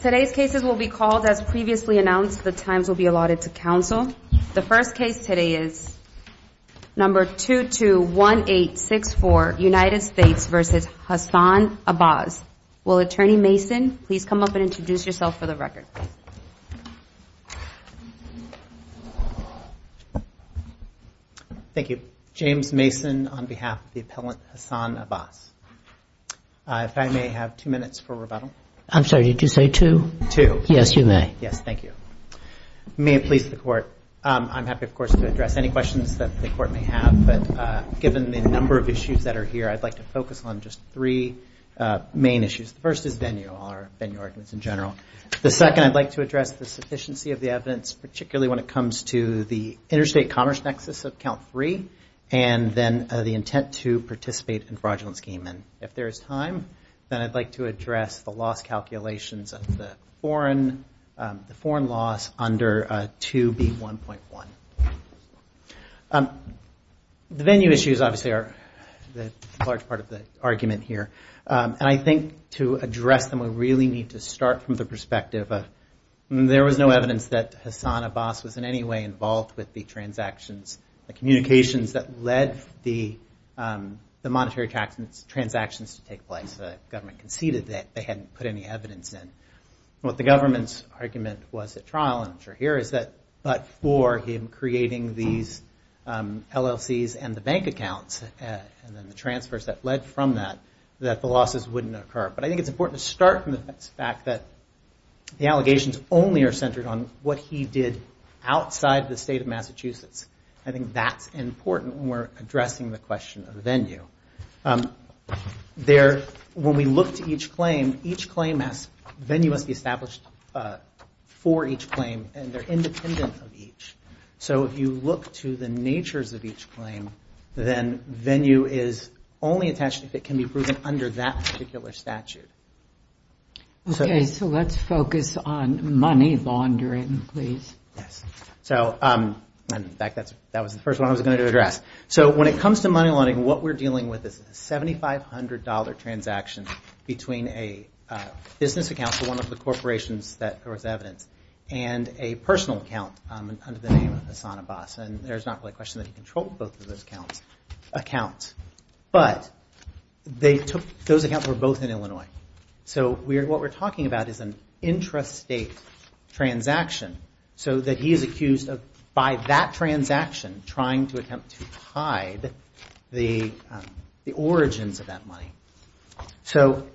Today's cases will be called as previously announced. The times will be allotted to counsel. The first case today is number 221864, United States v. Hassan Abbas. Will Attorney Mason please come up and introduce yourself for the record? Thank you. James Mason on behalf of the appellant Hassan Abbas. If I may have two minutes for rebuttal. I'm sorry did you say two? Two. Yes you may. Yes thank you. May it please the court. I'm happy of course to address any questions that the court may have but given the number of issues that are here I'd like to focus on just three main issues. The first is venue, all our venue arguments in general. The second I'd like to address the sufficiency of the evidence particularly when it comes to the interstate commerce nexus of count three and then the intent to participate in fraudulent If there is time then I'd like to address the loss calculations of the foreign loss under 2B1.1. The venue issues obviously are a large part of the argument here and I think to address them we really need to start from the perspective of there was no evidence that Hassan Abbas was in any way involved with the transactions, the communications that led the monetary transactions to take place. The government conceded that they hadn't put any evidence in. What the government's argument was at trial and I'm sure here is that but for him creating these LLC's and the bank accounts and then the transfers that led from that that the losses wouldn't occur. But I think it's important to start from the fact that the allegations only are centered on what he did outside the state of Massachusetts. I think that's important when we're addressing the question of the venue. When we look to each claim, each claim has venue must be established for each claim and they're independent of each. So if you look to the natures of each claim then venue is only attached if it can be proven under that particular statute. Okay, so let's focus on money laundering please. So in fact that was the first one I was going to address. So when it comes to money laundering what we're dealing with is a $7,500 transaction between a business account for one of the corporations that there was evidence and a personal account under the name of Hassan Abbas and there's not really a question that he controlled both of those accounts. But they took, those accounts were both in Illinois. So what we're talking about is an intrastate transaction so that he is accused of by that transaction trying to attempt to hide the origins of that money. So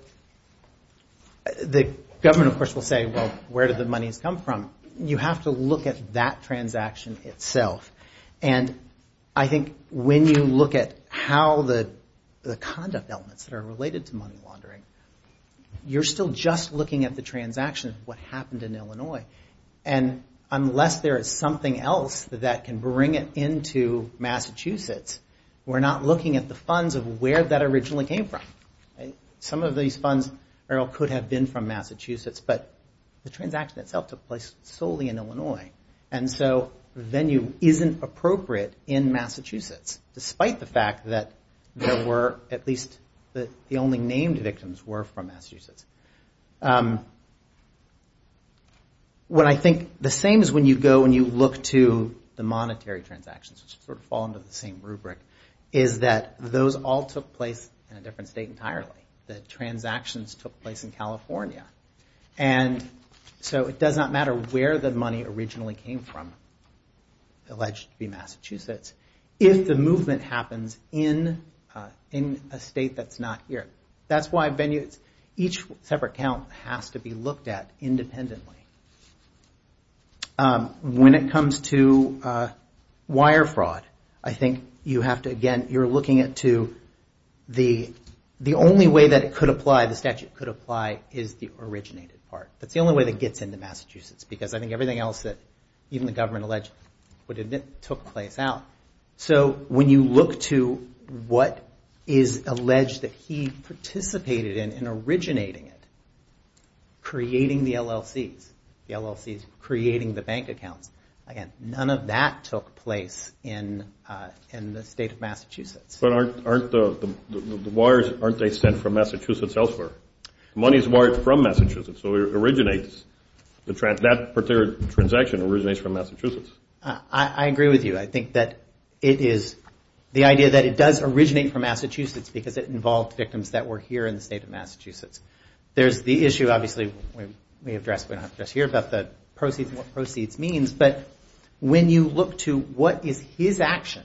the government of course will say well where did the money come from? You have to look at that transaction itself. And I think when you look at how the conduct elements that are related to money laundering, you're still just looking at the one in Illinois. And unless there is something else that can bring it into Massachusetts, we're not looking at the funds of where that originally came from. Some of these funds could have been from Massachusetts but the transaction itself took place solely in Illinois. And so venue isn't appropriate in Massachusetts despite the fact that there were at least the only named victims were from Massachusetts. What I think, the same as when you go and you look to the monetary transactions which sort of fall under the same rubric, is that those all took place in a different state entirely. The transactions took place in California. And so it does not matter where the money originally came from, alleged to be Massachusetts, if the movement happens in a state that's not here. That's why venues, each separate count has to be looked at independently. When it comes to wire fraud, I think you have to again, you're looking at to the only way that it could apply, the statute could apply, is the originated part. That's the only way that gets into Massachusetts because I think everything else that even the government alleged would admit took place out. So when you look to what is alleged that he participated in originating it, creating the LLCs, the LLCs creating the bank accounts, again, none of that took place in the state of Massachusetts. But aren't the wires, aren't they sent from Massachusetts elsewhere? Money is wired from Massachusetts. I agree with you. I think that it is the idea that it does originate from Massachusetts because it involved victims that were here in the state of Massachusetts. There's the issue, obviously, we addressed here about the proceeds and what proceeds means, but when you look to what is his action,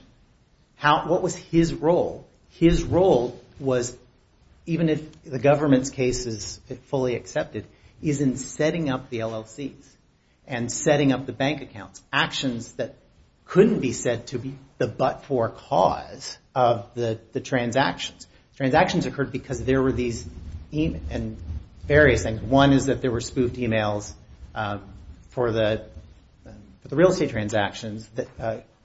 what was his role, his role was even if the government's case is fully accepted is in setting up the LLCs and setting up the bank accounts, actions that couldn't be said to be the but-for cause of the transactions. Transactions occurred because there were these various things. One is that there were spoofed emails for the real estate transactions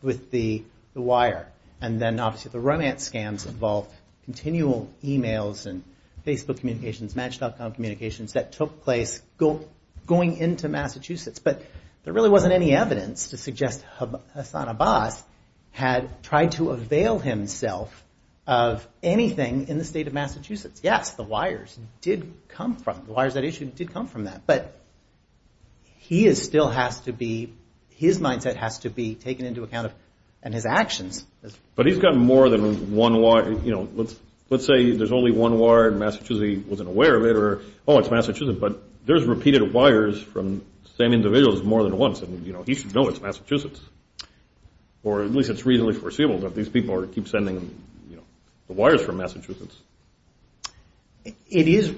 with the wire and then obviously the romance scams involved continual emails and Facebook communications, Match.com communications that took place going into Massachusetts, but there really wasn't any evidence to suggest Hassan Abbas had tried to avail himself of anything in the state of Massachusetts. Yes, the wires did come from, the wires that issued did come from that, but he still has to be, his mindset has to be taken into account and his actions. But he's got more than one wire, you know, let's say there's only one wire and Massachusetts wasn't aware of it or, oh, it's Massachusetts, but there's repeated wires from same individuals more than once and, you know, he should know it's Massachusetts or at least it's reasonably foreseeable that these people keep sending, you know, the wires from Massachusetts. It is,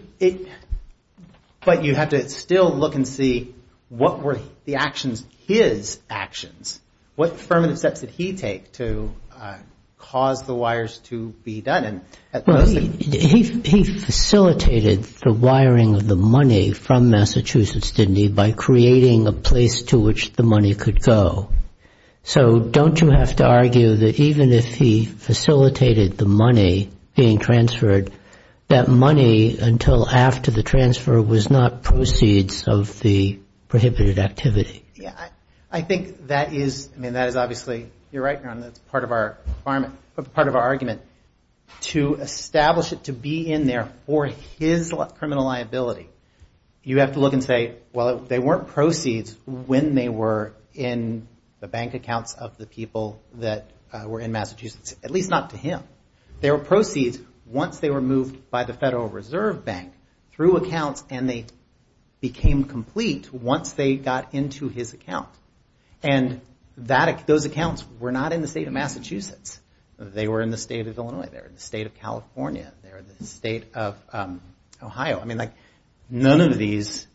but you have to still look and see what were the actions, his actions, what affirmative steps did he take to cause the wires to be done and at the same time, he facilitated the wiring of the money from Massachusetts, didn't he, by creating a place to which the money could go. So don't you have to argue that even if he facilitated the money being transferred, that money until after the transfer was not proceeds of the prohibited activity? I think that is, I mean, that is obviously, you're right, Ron, that's part of our argument. To establish it to be in there for his criminal liability, you have to look and say, well, they weren't proceeds when they were in the bank accounts of the people that were in Massachusetts, at least not to him. They were proceeds once they were moved by the Federal Reserve Bank through accounts and they became complete once they got into his account. And those accounts were not in the state of Massachusetts. They were in the state of Illinois. They were in the state of California. They were in the state of Ohio. I mean, like, none of these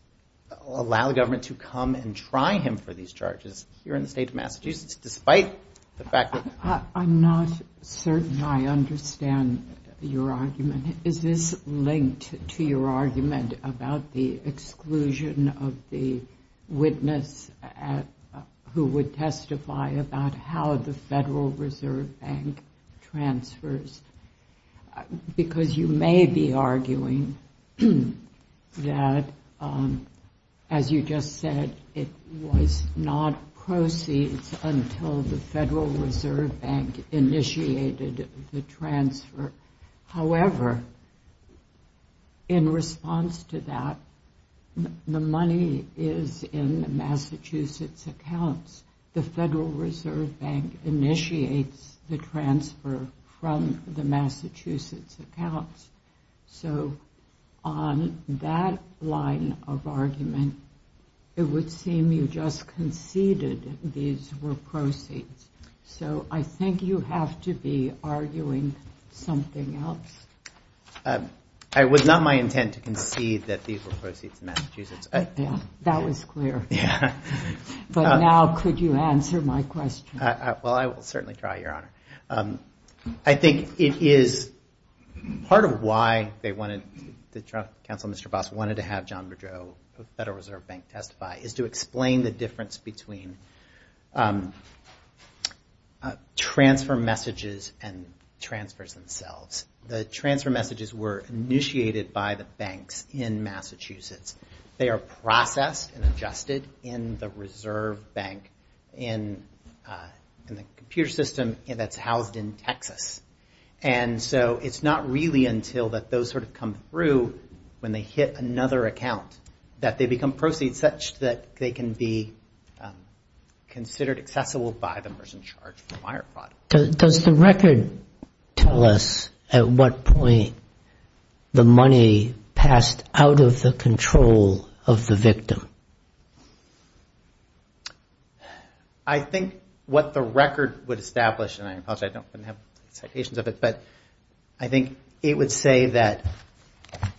allow the government to come and try him for these charges here in the state of Massachusetts, despite the fact that... I'm not certain I understand your argument. Is this linked to your argument about the exclusion of the witness who would testify about how the Federal Reserve Bank transfers? Because you may be arguing that, as you just said, it was not proceeds until the Federal Reserve Bank initiated the transfer. However, in response to that, the money is in the Massachusetts accounts. The Federal Reserve Bank initiates the transfer from the Massachusetts accounts. So on that line of argument, it would seem you just conceded these were proceeds. So I think you have to be arguing something else. It was not my intent to concede that these were proceeds in Massachusetts. Yeah, that was clear. But now, could you answer my question? Well, I will certainly try, Your Honor. I think it is part of why they wanted, the counsel, Mr. Boss, wanted to have John Bedreau of Federal Reserve Bank testify, is to explain the difference between transfer messages and transfers themselves. The transfer messages were initiated by the banks in Massachusetts. They are processed and adjusted in the Reserve Bank in the computer system that is housed in Texas. And so it is not really until those sort of come through when they hit another account that they become proceeds such that they can be considered accessible by the person in charge of the wire fraud. Does the record tell us at what point the money passed out of the control of the victim? I think what the record would establish, and I apologize, I don't have citations of it, but I think it would say that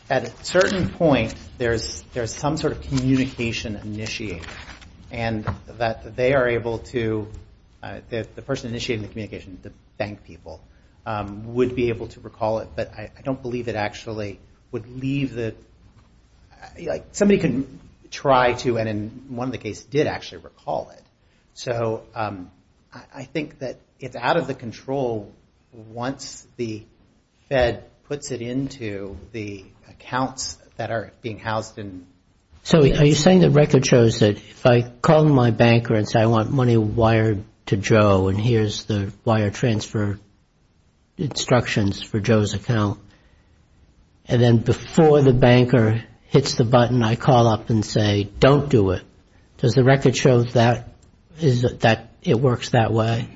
at a certain point there is some sort of communication initiated and that they are able to, the person initiating the communication, the bank would try to, and in one of the cases did actually recall it. So I think that it is out of the control once the Fed puts it into the accounts that are being housed in Texas. So are you saying the record shows that if I call my banker and say I want money wired to Joe and here is the wire transfer instructions for you, don't do it, does the record show that it works that way?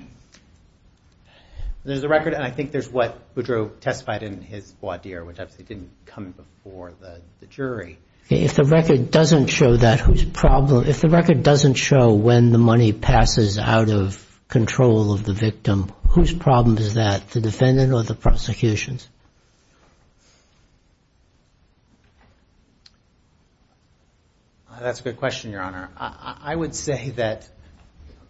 There is a record and I think there is what Boudreau testified in his voir dire which didn't come before the jury. If the record doesn't show that, if the record doesn't show when the money passes out of control of the victim, whose problem is that, the defendant or the prosecutions? That's a good question, your honor. I would say that,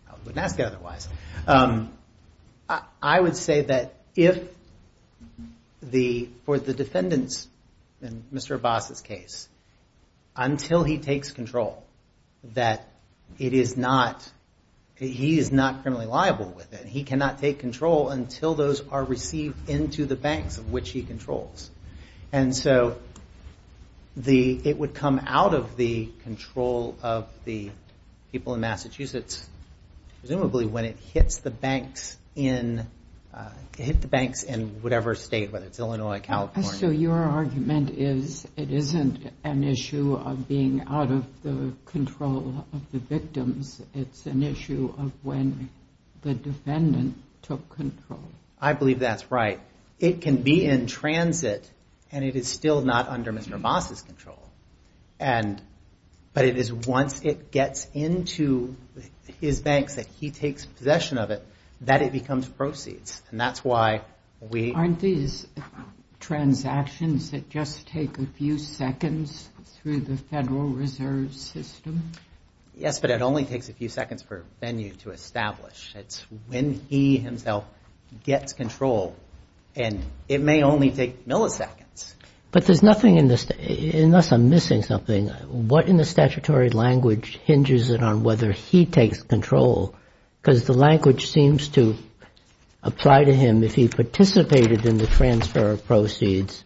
I wouldn't ask it otherwise, I would say that if the, for the defendants, in Mr. Abbas's case, until he takes control, that it is not, he is not criminally liable with it. He cannot take control until those are taken out of which he controls. And so, it would come out of the control of the people in Massachusetts, presumably when it hits the banks in whatever state, whether it's Illinois, California. So your argument is it isn't an issue of being out of the control of the victims, it's an issue of when the defendant took control? I believe that's right. It can be in transit and it is still not under Mr. Abbas's control. And, but it is once it gets into his banks that he takes possession of it, that it becomes proceeds. And that's why we... Aren't these transactions that just take a few seconds through the Federal Reserve System? Yes, but it only takes a few seconds per venue to establish. It's when he himself gets control. And it may only take milliseconds. But there's nothing in this, unless I'm missing something, what in the statutory language hinges it on whether he takes control? Because the language seems to apply to him if he participated in the transfer of proceeds,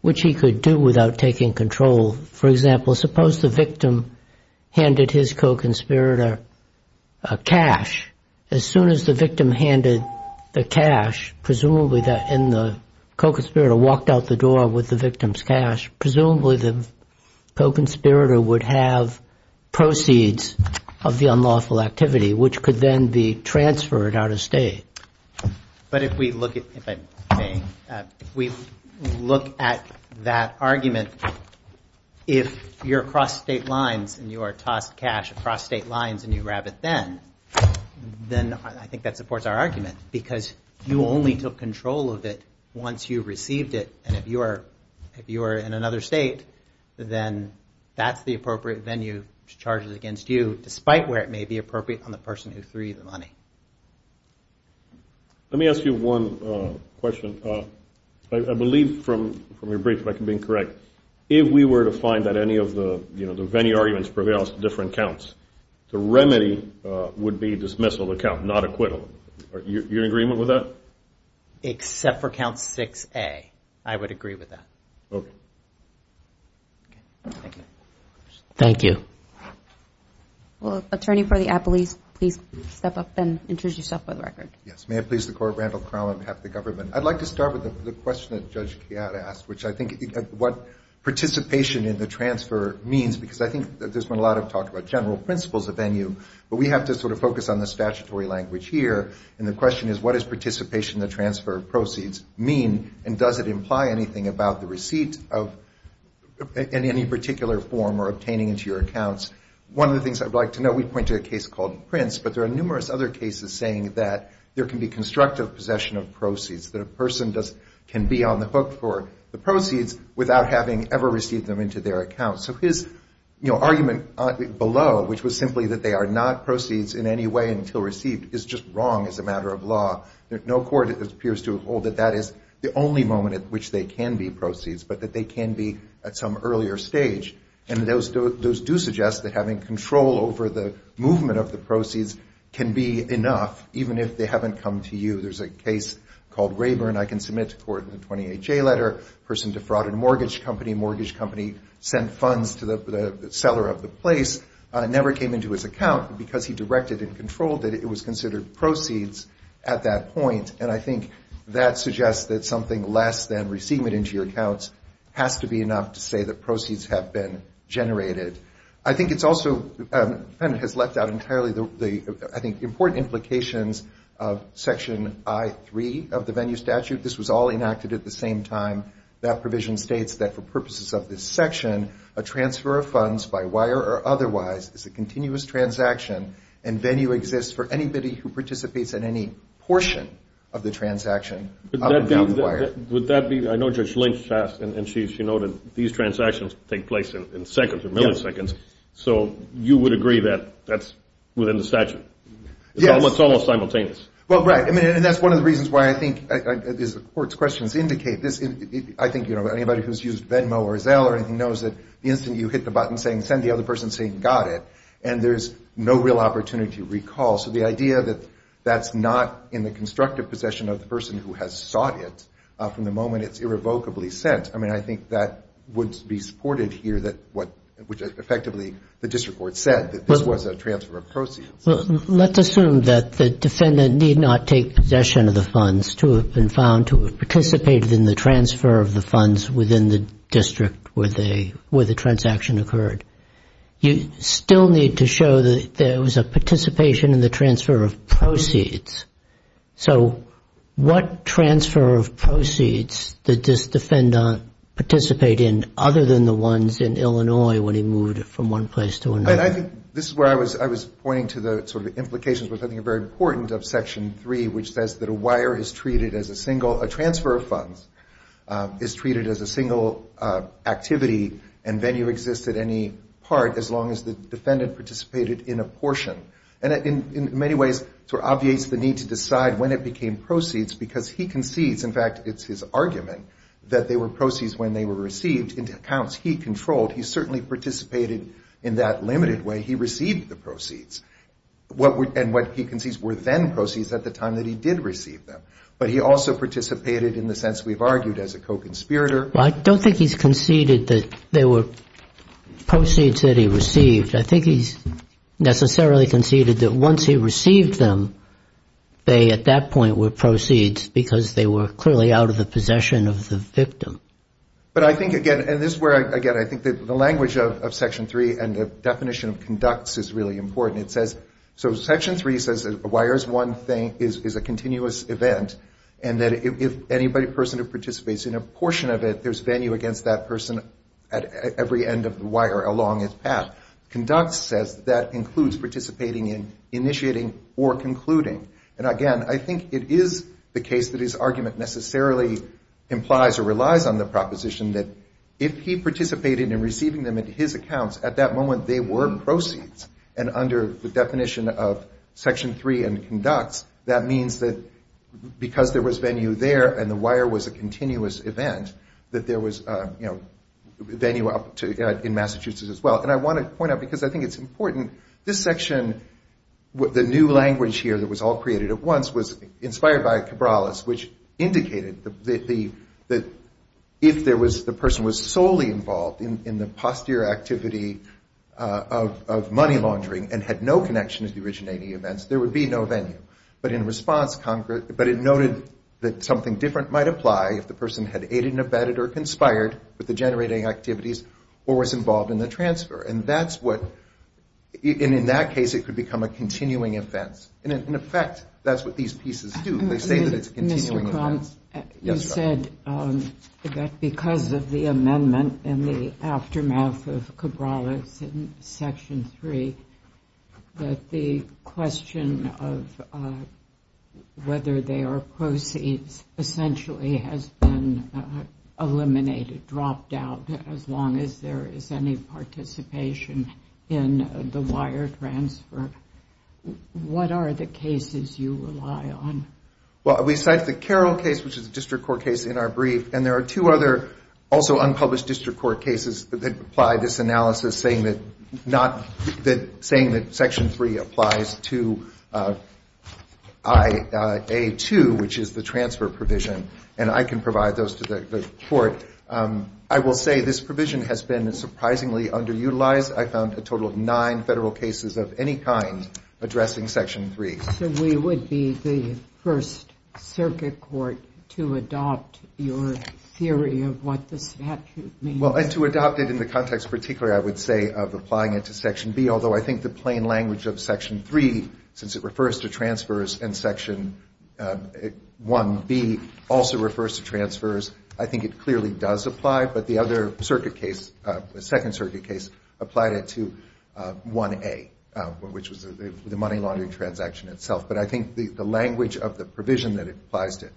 which he could do without taking control. For example, suppose the victim handed his co-conspirator cash. As soon as the victim handed the cash, presumably that in the co-conspirator walked out the door with the victim's cash, presumably the co-conspirator would have proceeds of the unlawful activity, which could then be transferred out of state. But if we look at, if I may, if we look at that argument, if you're across state lines and you are talking about, you know, the cost of cash across state lines and you grab it then, then I think that supports our argument. Because you only took control of it once you received it. And if you are in another state, then that's the appropriate venue to charge it against you, despite where it may be appropriate on the person who threw you the money. Let me ask you one question. I believe from your brief, if I can be incorrect, if we were to find that any of the, you know, the venue arguments were different counts, the remedy would be dismissal of the count, not acquittal. Are you in agreement with that? Except for count 6A, I would agree with that. Thank you. Yes, may it please the Court, Randall Crown on behalf of the government. I'd like to start with the question that Judge Keat asked, which I think what participation in the transfer means, because I think there's been a lot of talk about general principles of venue, but we have to sort of focus on the statutory language here. And the question is, what is participation in the transfer of proceeds mean and does it imply anything about the receipt of, in any particular form or obtaining into your accounts? One of the things I'd like to know, we pointed a case called Prince, but there are numerous other cases saying that there can be constructive possession of proceeds, that a person can be on the hook for the proceeds without having to pay anything, without having ever received them into their accounts. So his, you know, argument below, which was simply that they are not proceeds in any way until received, is just wrong as a matter of law. No court appears to hold that that is the only moment at which they can be proceeds, but that they can be at some earlier stage. And those do suggest that having control over the movement of the proceeds can be enough, even if they haven't come to you. There's a case called Rayburn, I can submit to court in the 28-J letter, a person defrauded a mortgage company, mortgage company sent funds to the seller of the place, never came into his account, but because he directed and controlled it, it was considered proceeds at that point. And I think that suggests that something less than receiving it into your accounts has to be enough to say that proceeds have been generated. I think it's also, and has left out entirely the, I think, important implications of Section I.3 of the venue statute. This was all enacted at the same time. That provision states that for purposes of this section, a transfer of funds by wire or otherwise is a continuous transaction and venue exists for anybody who participates in any portion of the transaction. Would that be, I know Judge Lynch asked and she noted, these transactions take place in the same venue. So you would agree that that's within the statute? It's almost simultaneous. Well, right. And that's one of the reasons why I think, as the court's questions indicate, I think anybody who's used Venmo or Zelle or anything knows that the instant you hit the button saying send the other person saying got it, and there's no real opportunity to recall. So the idea that that's not in the constructive possession of the person who has sought it from the moment it's irrevocably sent, I mean, I think that would be supported here, which effectively the district court said that this was a transfer of proceeds. Well, let's assume that the defendant need not take possession of the funds to have been found to have participated in the transfer of the funds within the district where the transaction occurred. You still need to show that there was a participation in the transfer of proceeds. So what transfer of proceeds did this defendant participate in other than the ones in Illinois when he moved from one place to another? I think this is where I was pointing to the sort of implications which I think are very important of Section 3, which says that a wire is treated as a single, a transfer of funds is treated as a single activity and venue exists at any part as long as the defendant participated in a portion. And in many ways, it sort of obviates the need to decide when it became proceeds because he concedes, in fact, it's his argument, that they were proceeds when they were received into accounts he controlled. He certainly participated in that limited way. He received the proceeds. And what he concedes were then proceeds at the time that he did receive them. But he also participated in the sense we've argued as a co-conspirator. Well, I don't think he's conceded that they were proceeds that he received. I think he's necessarily conceded that once he received the proceeds, he received them, they at that point were proceeds because they were clearly out of the possession of the victim. But I think, again, and this is where, again, I think the language of Section 3 and the definition of conducts is really important. It says, so Section 3 says that a wire is one thing, is a continuous event, and that if anybody, a person who participates in a portion of it, there's venue against that person at every end of the wire along its path. Conducts says that that includes participating in, initiating the process, or concluding. And, again, I think it is the case that his argument necessarily implies or relies on the proposition that if he participated in receiving them into his accounts, at that moment they were proceeds. And under the definition of Section 3 and conducts, that means that because there was venue there and the wire was a continuous event, that there was venue in Massachusetts as well. And I want to point out that the new language here that was all created at once was inspired by Cabrales, which indicated that if there was, the person was solely involved in the posterior activity of money laundering and had no connection to the originating events, there would be no venue. But in response, but it noted that something different might apply if the person had aided and abetted or conspired with the generating activities or was involved in the transfer. And that's what, and in that case it could become a continuing offense. And, in effect, that's what these pieces do. They say that it's a continuing offense. You said that because of the amendment in the aftermath of Cabrales in Section 3, that the question of whether they are proceeds essentially has been eliminated, dropped out, as long as there is any participation in the wire transfer. What are the cases you rely on? Well, we cite the Carroll case, which is a district court case in our brief, and there are two other also unpublished district court cases that apply this analysis saying that not, saying that Section 3 applies to IA2, which is the transfer provision. And I can provide those to the committee. I will say this provision has been surprisingly underutilized. I found a total of nine federal cases of any kind addressing Section 3. So we would be the first circuit court to adopt your theory of what the statute means? Well, and to adopt it in the context particularly, I would say, of applying it to Section B, although I think the plain language of Section 3, since it also refers to transfers, I think it clearly does apply. But the other circuit case, the second circuit case, applied it to 1A, which was the money laundering transaction itself. But I think the language of the provision that it applies to,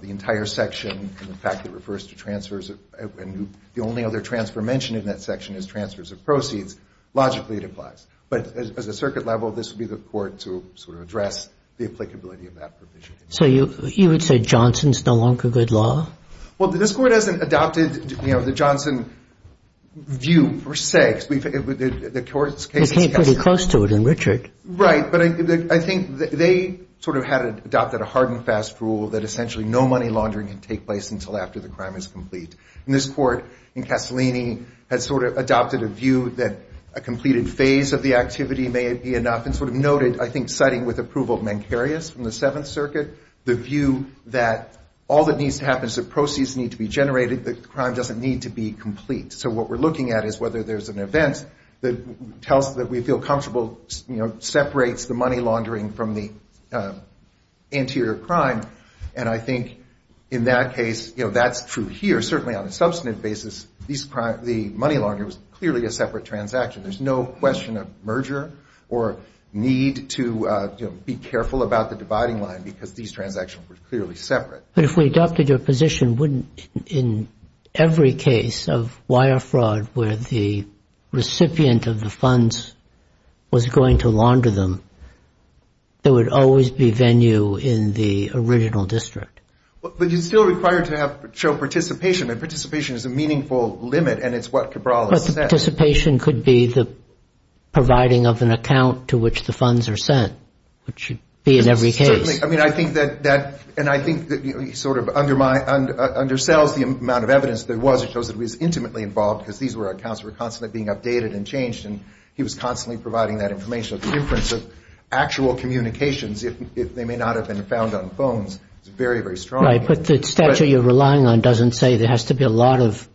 the entire section, and the fact that it refers to transfers, and the only other transfer mentioned in that section is transfers of proceeds, logically it applies. But as a circuit level, this would be the court to sort of address the applicability of that provision. So you would say Johnson's no longer good law? Well, this court hasn't adopted the Johnson view per se. You came pretty close to it in Richard. Right. But I think they sort of had adopted a hard and fast rule that essentially no money laundering can take place until after the crime is completed. And they sort of noted, I think, citing with approval Mencarius from the Seventh Circuit, the view that all that needs to happen is the proceeds need to be generated, the crime doesn't need to be complete. So what we're looking at is whether there's an event that tells us that we feel comfortable, you know, separates the money laundering from the anterior crime. And I think in that case, you know, that's true here. Certainly on a substantive basis, the money laundering was clearly a separate transaction. There's no question of merger or need for the money laundering. There's no need to be careful about the dividing line because these transactions were clearly separate. But if we adopted your position, wouldn't in every case of wire fraud where the recipient of the funds was going to launder them, there would always be venue in the original district? But you're still required to have participation. And participation is a meaningful limit. And it's what Cabral has said. The funds are sent, which should be in every case. Certainly. I mean, I think that that, and I think that he sort of undersells the amount of evidence there was. It shows that he was intimately involved because these were accounts that were constantly being updated and changed. And he was constantly providing that information of the difference of actual communications if they may not have been found on phones. It's very, very strong. Right. But the statute you're relying on doesn't say there has to be a lot of,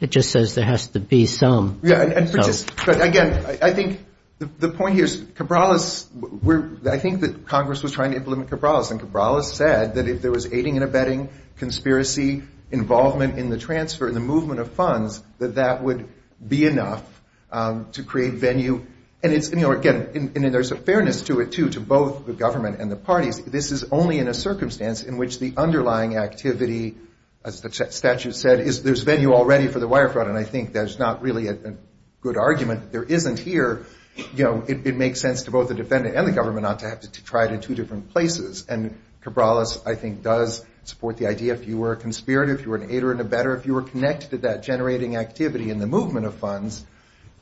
it just says there has to be some. Again, I think the point here is Cabral is, I think that Congress was trying to implement Cabral and Cabral has said that if there was aiding and abetting conspiracy involvement in the transfer and the movement of funds, that that would be enough to create venue. And it's, you know, again, there's a fairness to it too, to both the government and the parties. This is only in a circumstance in which the underlying activity, as the statute said, is there's venue already for the wire fraud. And I think that's not really a good argument. There isn't here. You know, it makes sense to both the defendant and the government not to have to try it in two different places. And Cabral, I think, does support the idea if you were a conspirator, if you were an aider and abetter, if you were connected to that generating activity in the movement of funds,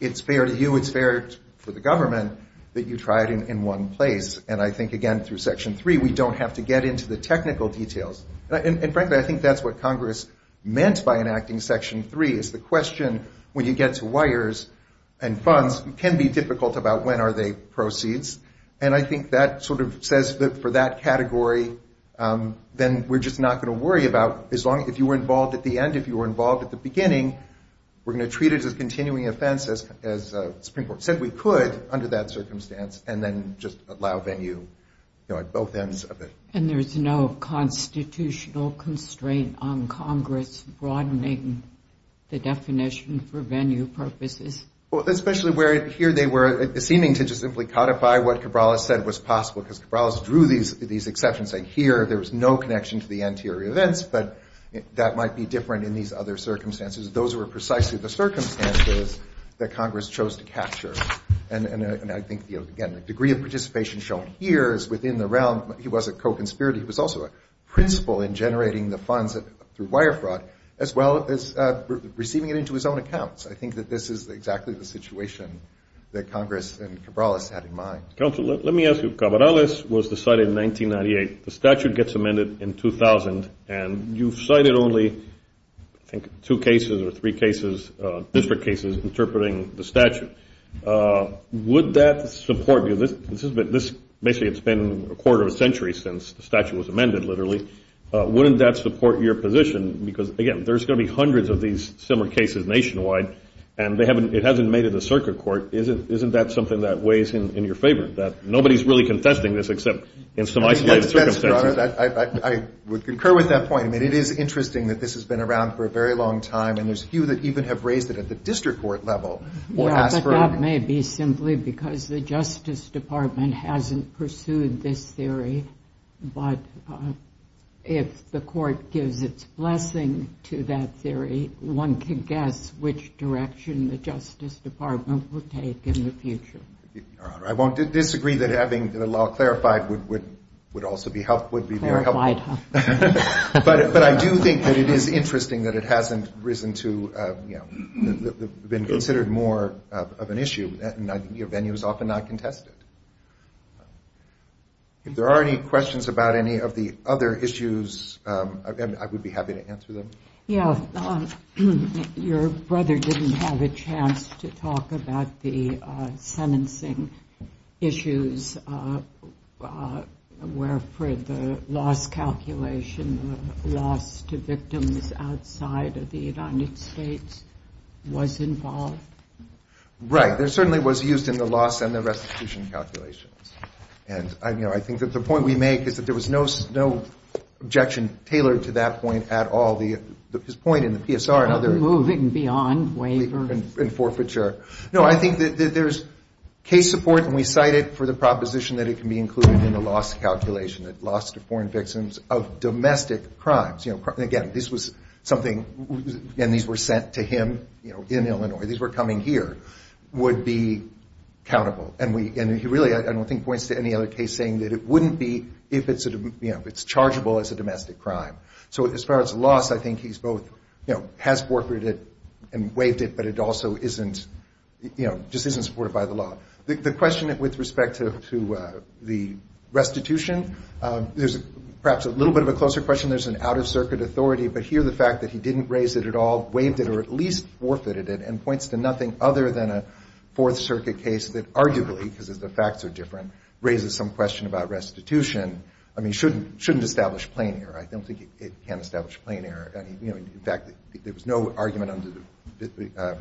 it's fair to you, it's fair for the government that you try it in one place. And I think, again, through section three, we don't have to get into the technical details. And frankly, I think that's what Congress meant by enacting section three, is the question, when you get to wires and funds, it can be difficult about when are they proceeds. And I think that sort of says that for that category, then we're just not going to worry about, as long as, if you were involved at the end, if you were involved at the beginning, we're going to treat it as a continuing offense, as the Supreme Court said we could under that venue, you know, at both ends of it. And there's no constitutional constraint on Congress broadening the definition for venue purposes? Well, especially where here they were seeming to just simply codify what Cabral has said was possible, because Cabral has drew these exceptions, like here, there was no connection to the anterior events, but that might be different in these other circumstances. Those were precisely the circumstances that Congress chose to capture. And I think, again, the degree of participation shown here is within the realm. He was a co-conspirator. He was also a principal in generating the funds through wire fraud, as well as receiving it into his own accounts. I think that this is exactly the situation that Congress and Cabral has had in mind. Counsel, let me ask you, Cabral was decided in 1998, the statute gets amended in 2000, and you've cited only, I think, two cases or three cases, district cases, interpreting the statute. Would that support you? Basically, it's been a quarter of a century since the statute was amended, literally. Wouldn't that support your position? Because, again, there's going to be hundreds of these similar cases nationwide, and it hasn't made it to the circuit court. Isn't that something that weighs in your favor, that nobody's really confessing this, except in some isolated circumstances? I would concur with that point. I mean, it is interesting that this has been around for a very long time, and there's a few that even have raised it at the district court level. Yeah, but that may be simply because the Justice Department hasn't pursued this theory. But if the court gives its blessing to that theory, one can guess which direction the Justice Department will take in the future. Your Honor, I won't disagree that having the law clarified would also be helpful. But I do think that it is interesting that it hasn't risen to, you know, been considered more of an issue, and your venue is often not contested. If there are any questions about any of the other issues, I would be happy to answer them. Yeah, your brother didn't have a chance to talk about the sentencing issues, where for the loss calculation, the loss to victims outside of the United States was involved. Right. It certainly was used in the loss and the restitution calculations. And, you know, I think that the point we make is that there was no objection tailored to that point at all. His point in the PSR and other... Moving beyond waivers. And forfeiture. No, I think that there's case support, and we cite it for the proposition that it can be included in the loss calculation, that loss to foreign victims of domestic crimes. You know, again, this was something, and these were sent to him, you know, in Illinois. These were coming here, would be countable. And he really, I don't think, points to any other case saying that it wouldn't be if it's chargeable as a domestic crime. So as far as loss, I think he's both, you know, has forfeited and waived it, but it also isn't, you know, just isn't supported by the law. The question with respect to the restitution, there's perhaps a little bit of a closer question. There's an out-of-circuit authority, but here the fact that he didn't raise it at all, waived it, or at least forfeited it, and points to nothing other than a Fourth Circuit case that arguably, because the facts are different, raises some question about restitution. I mean, shouldn't establish plain error. I don't think it can establish plain error. You know, in fact, there was no argument under the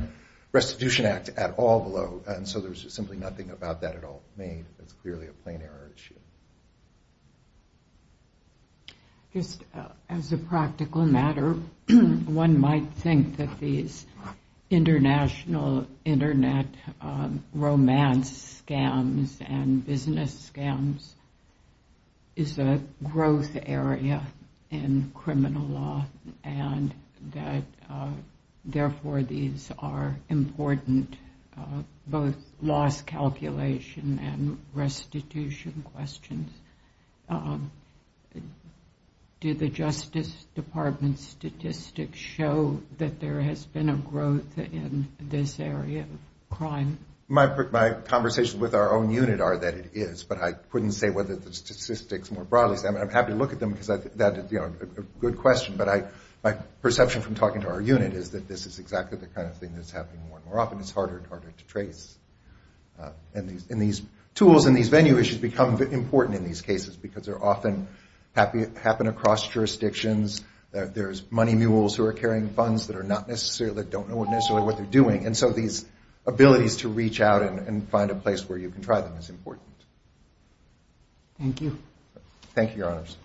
Restitution Act at all below, and so there's simply nothing about that at all made that's clearly a plain error issue. Just as a practical matter, one might think that these international internet romance scams and business scams is a growth area in criminal law, and that therefore these are important, both loss calculation and restitution questions. Do the Justice Department statistics show that there has been a growth in this area of crime? My conversations with our own unit are that it is, but I couldn't say whether the statistics more broadly. I'm happy to look at them because that's a good question, but my perception from talking to our unit is that this is exactly the kind of thing that's happening more and more often. It's harder and harder to trace. And these tools and these venue issues become important in these cases because they often happen across jurisdictions. There's money mules who are carrying funds that don't necessarily know what they're doing, and so these abilities to reach out and find a place where you can try them is important. Thank you. Thank you, Your Honors.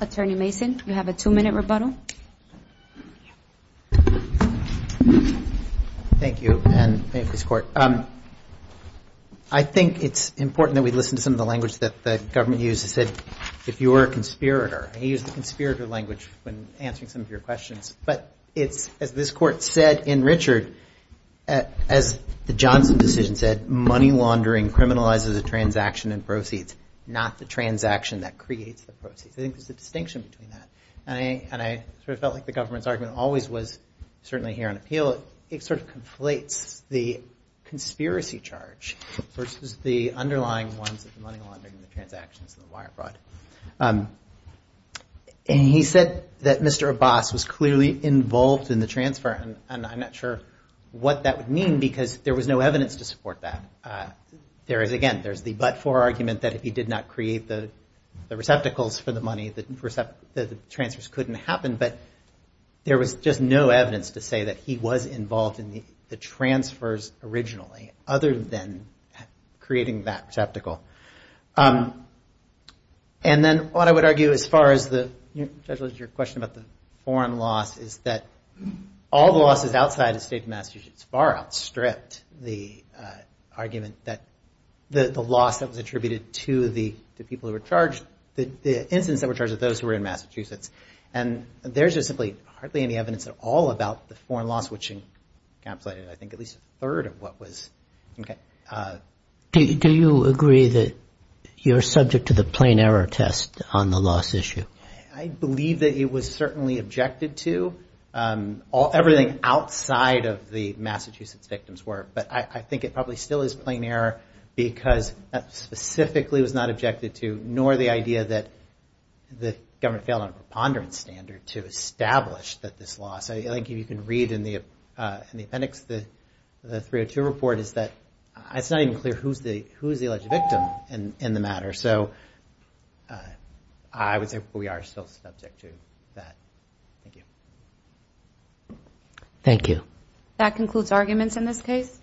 Attorney Mason, you have a two-minute rebuttal. Thank you, and thank you, Mr. Court. I think it's important that we listen to some of the language that the government uses. It said, if you were a conspirator, and he used the conspirator language when answering some of your questions, but it's, as this Court said in Richard, as the Johnson decision said, money laundering criminalizes a transaction and proceeds, not the transaction that creates the proceeds. I think there's a distinction between that. And I sort of felt like the government's argument always was, certainly here on appeal, it sort of conflates the transactions and the wire fraud. And he said that Mr. Abbas was clearly involved in the transfer, and I'm not sure what that would mean because there was no evidence to support that. Again, there's the but-for argument that if he did not create the receptacles for the money, the transfers couldn't happen, but there was just no evidence to say that he was involved in the transfers originally, other than creating that receptacle. And then what I would argue as far as your question about the foreign loss is that all the losses outside the state of Massachusetts far outstripped the argument that the loss that was attributed to the people who were charged, the incidents that were charged with those who were in Massachusetts. And there's just simply hardly any evidence at all about the foreign loss, which encapsulated I think at least a third of what was. Do you agree that you're subject to the plain error test on the loss issue? I believe that it was certainly objected to. Everything outside of the Massachusetts victims were. But I think it probably still is plain error because that specifically was not objected to, nor the idea that the government failed on a preponderance standard to establish that this loss. I think you can read in the appendix the 302 report is that it's not even clear who's the alleged victim in the matter. So I would say we are still subject to that. Thank you. Thank you. That concludes arguments in this case.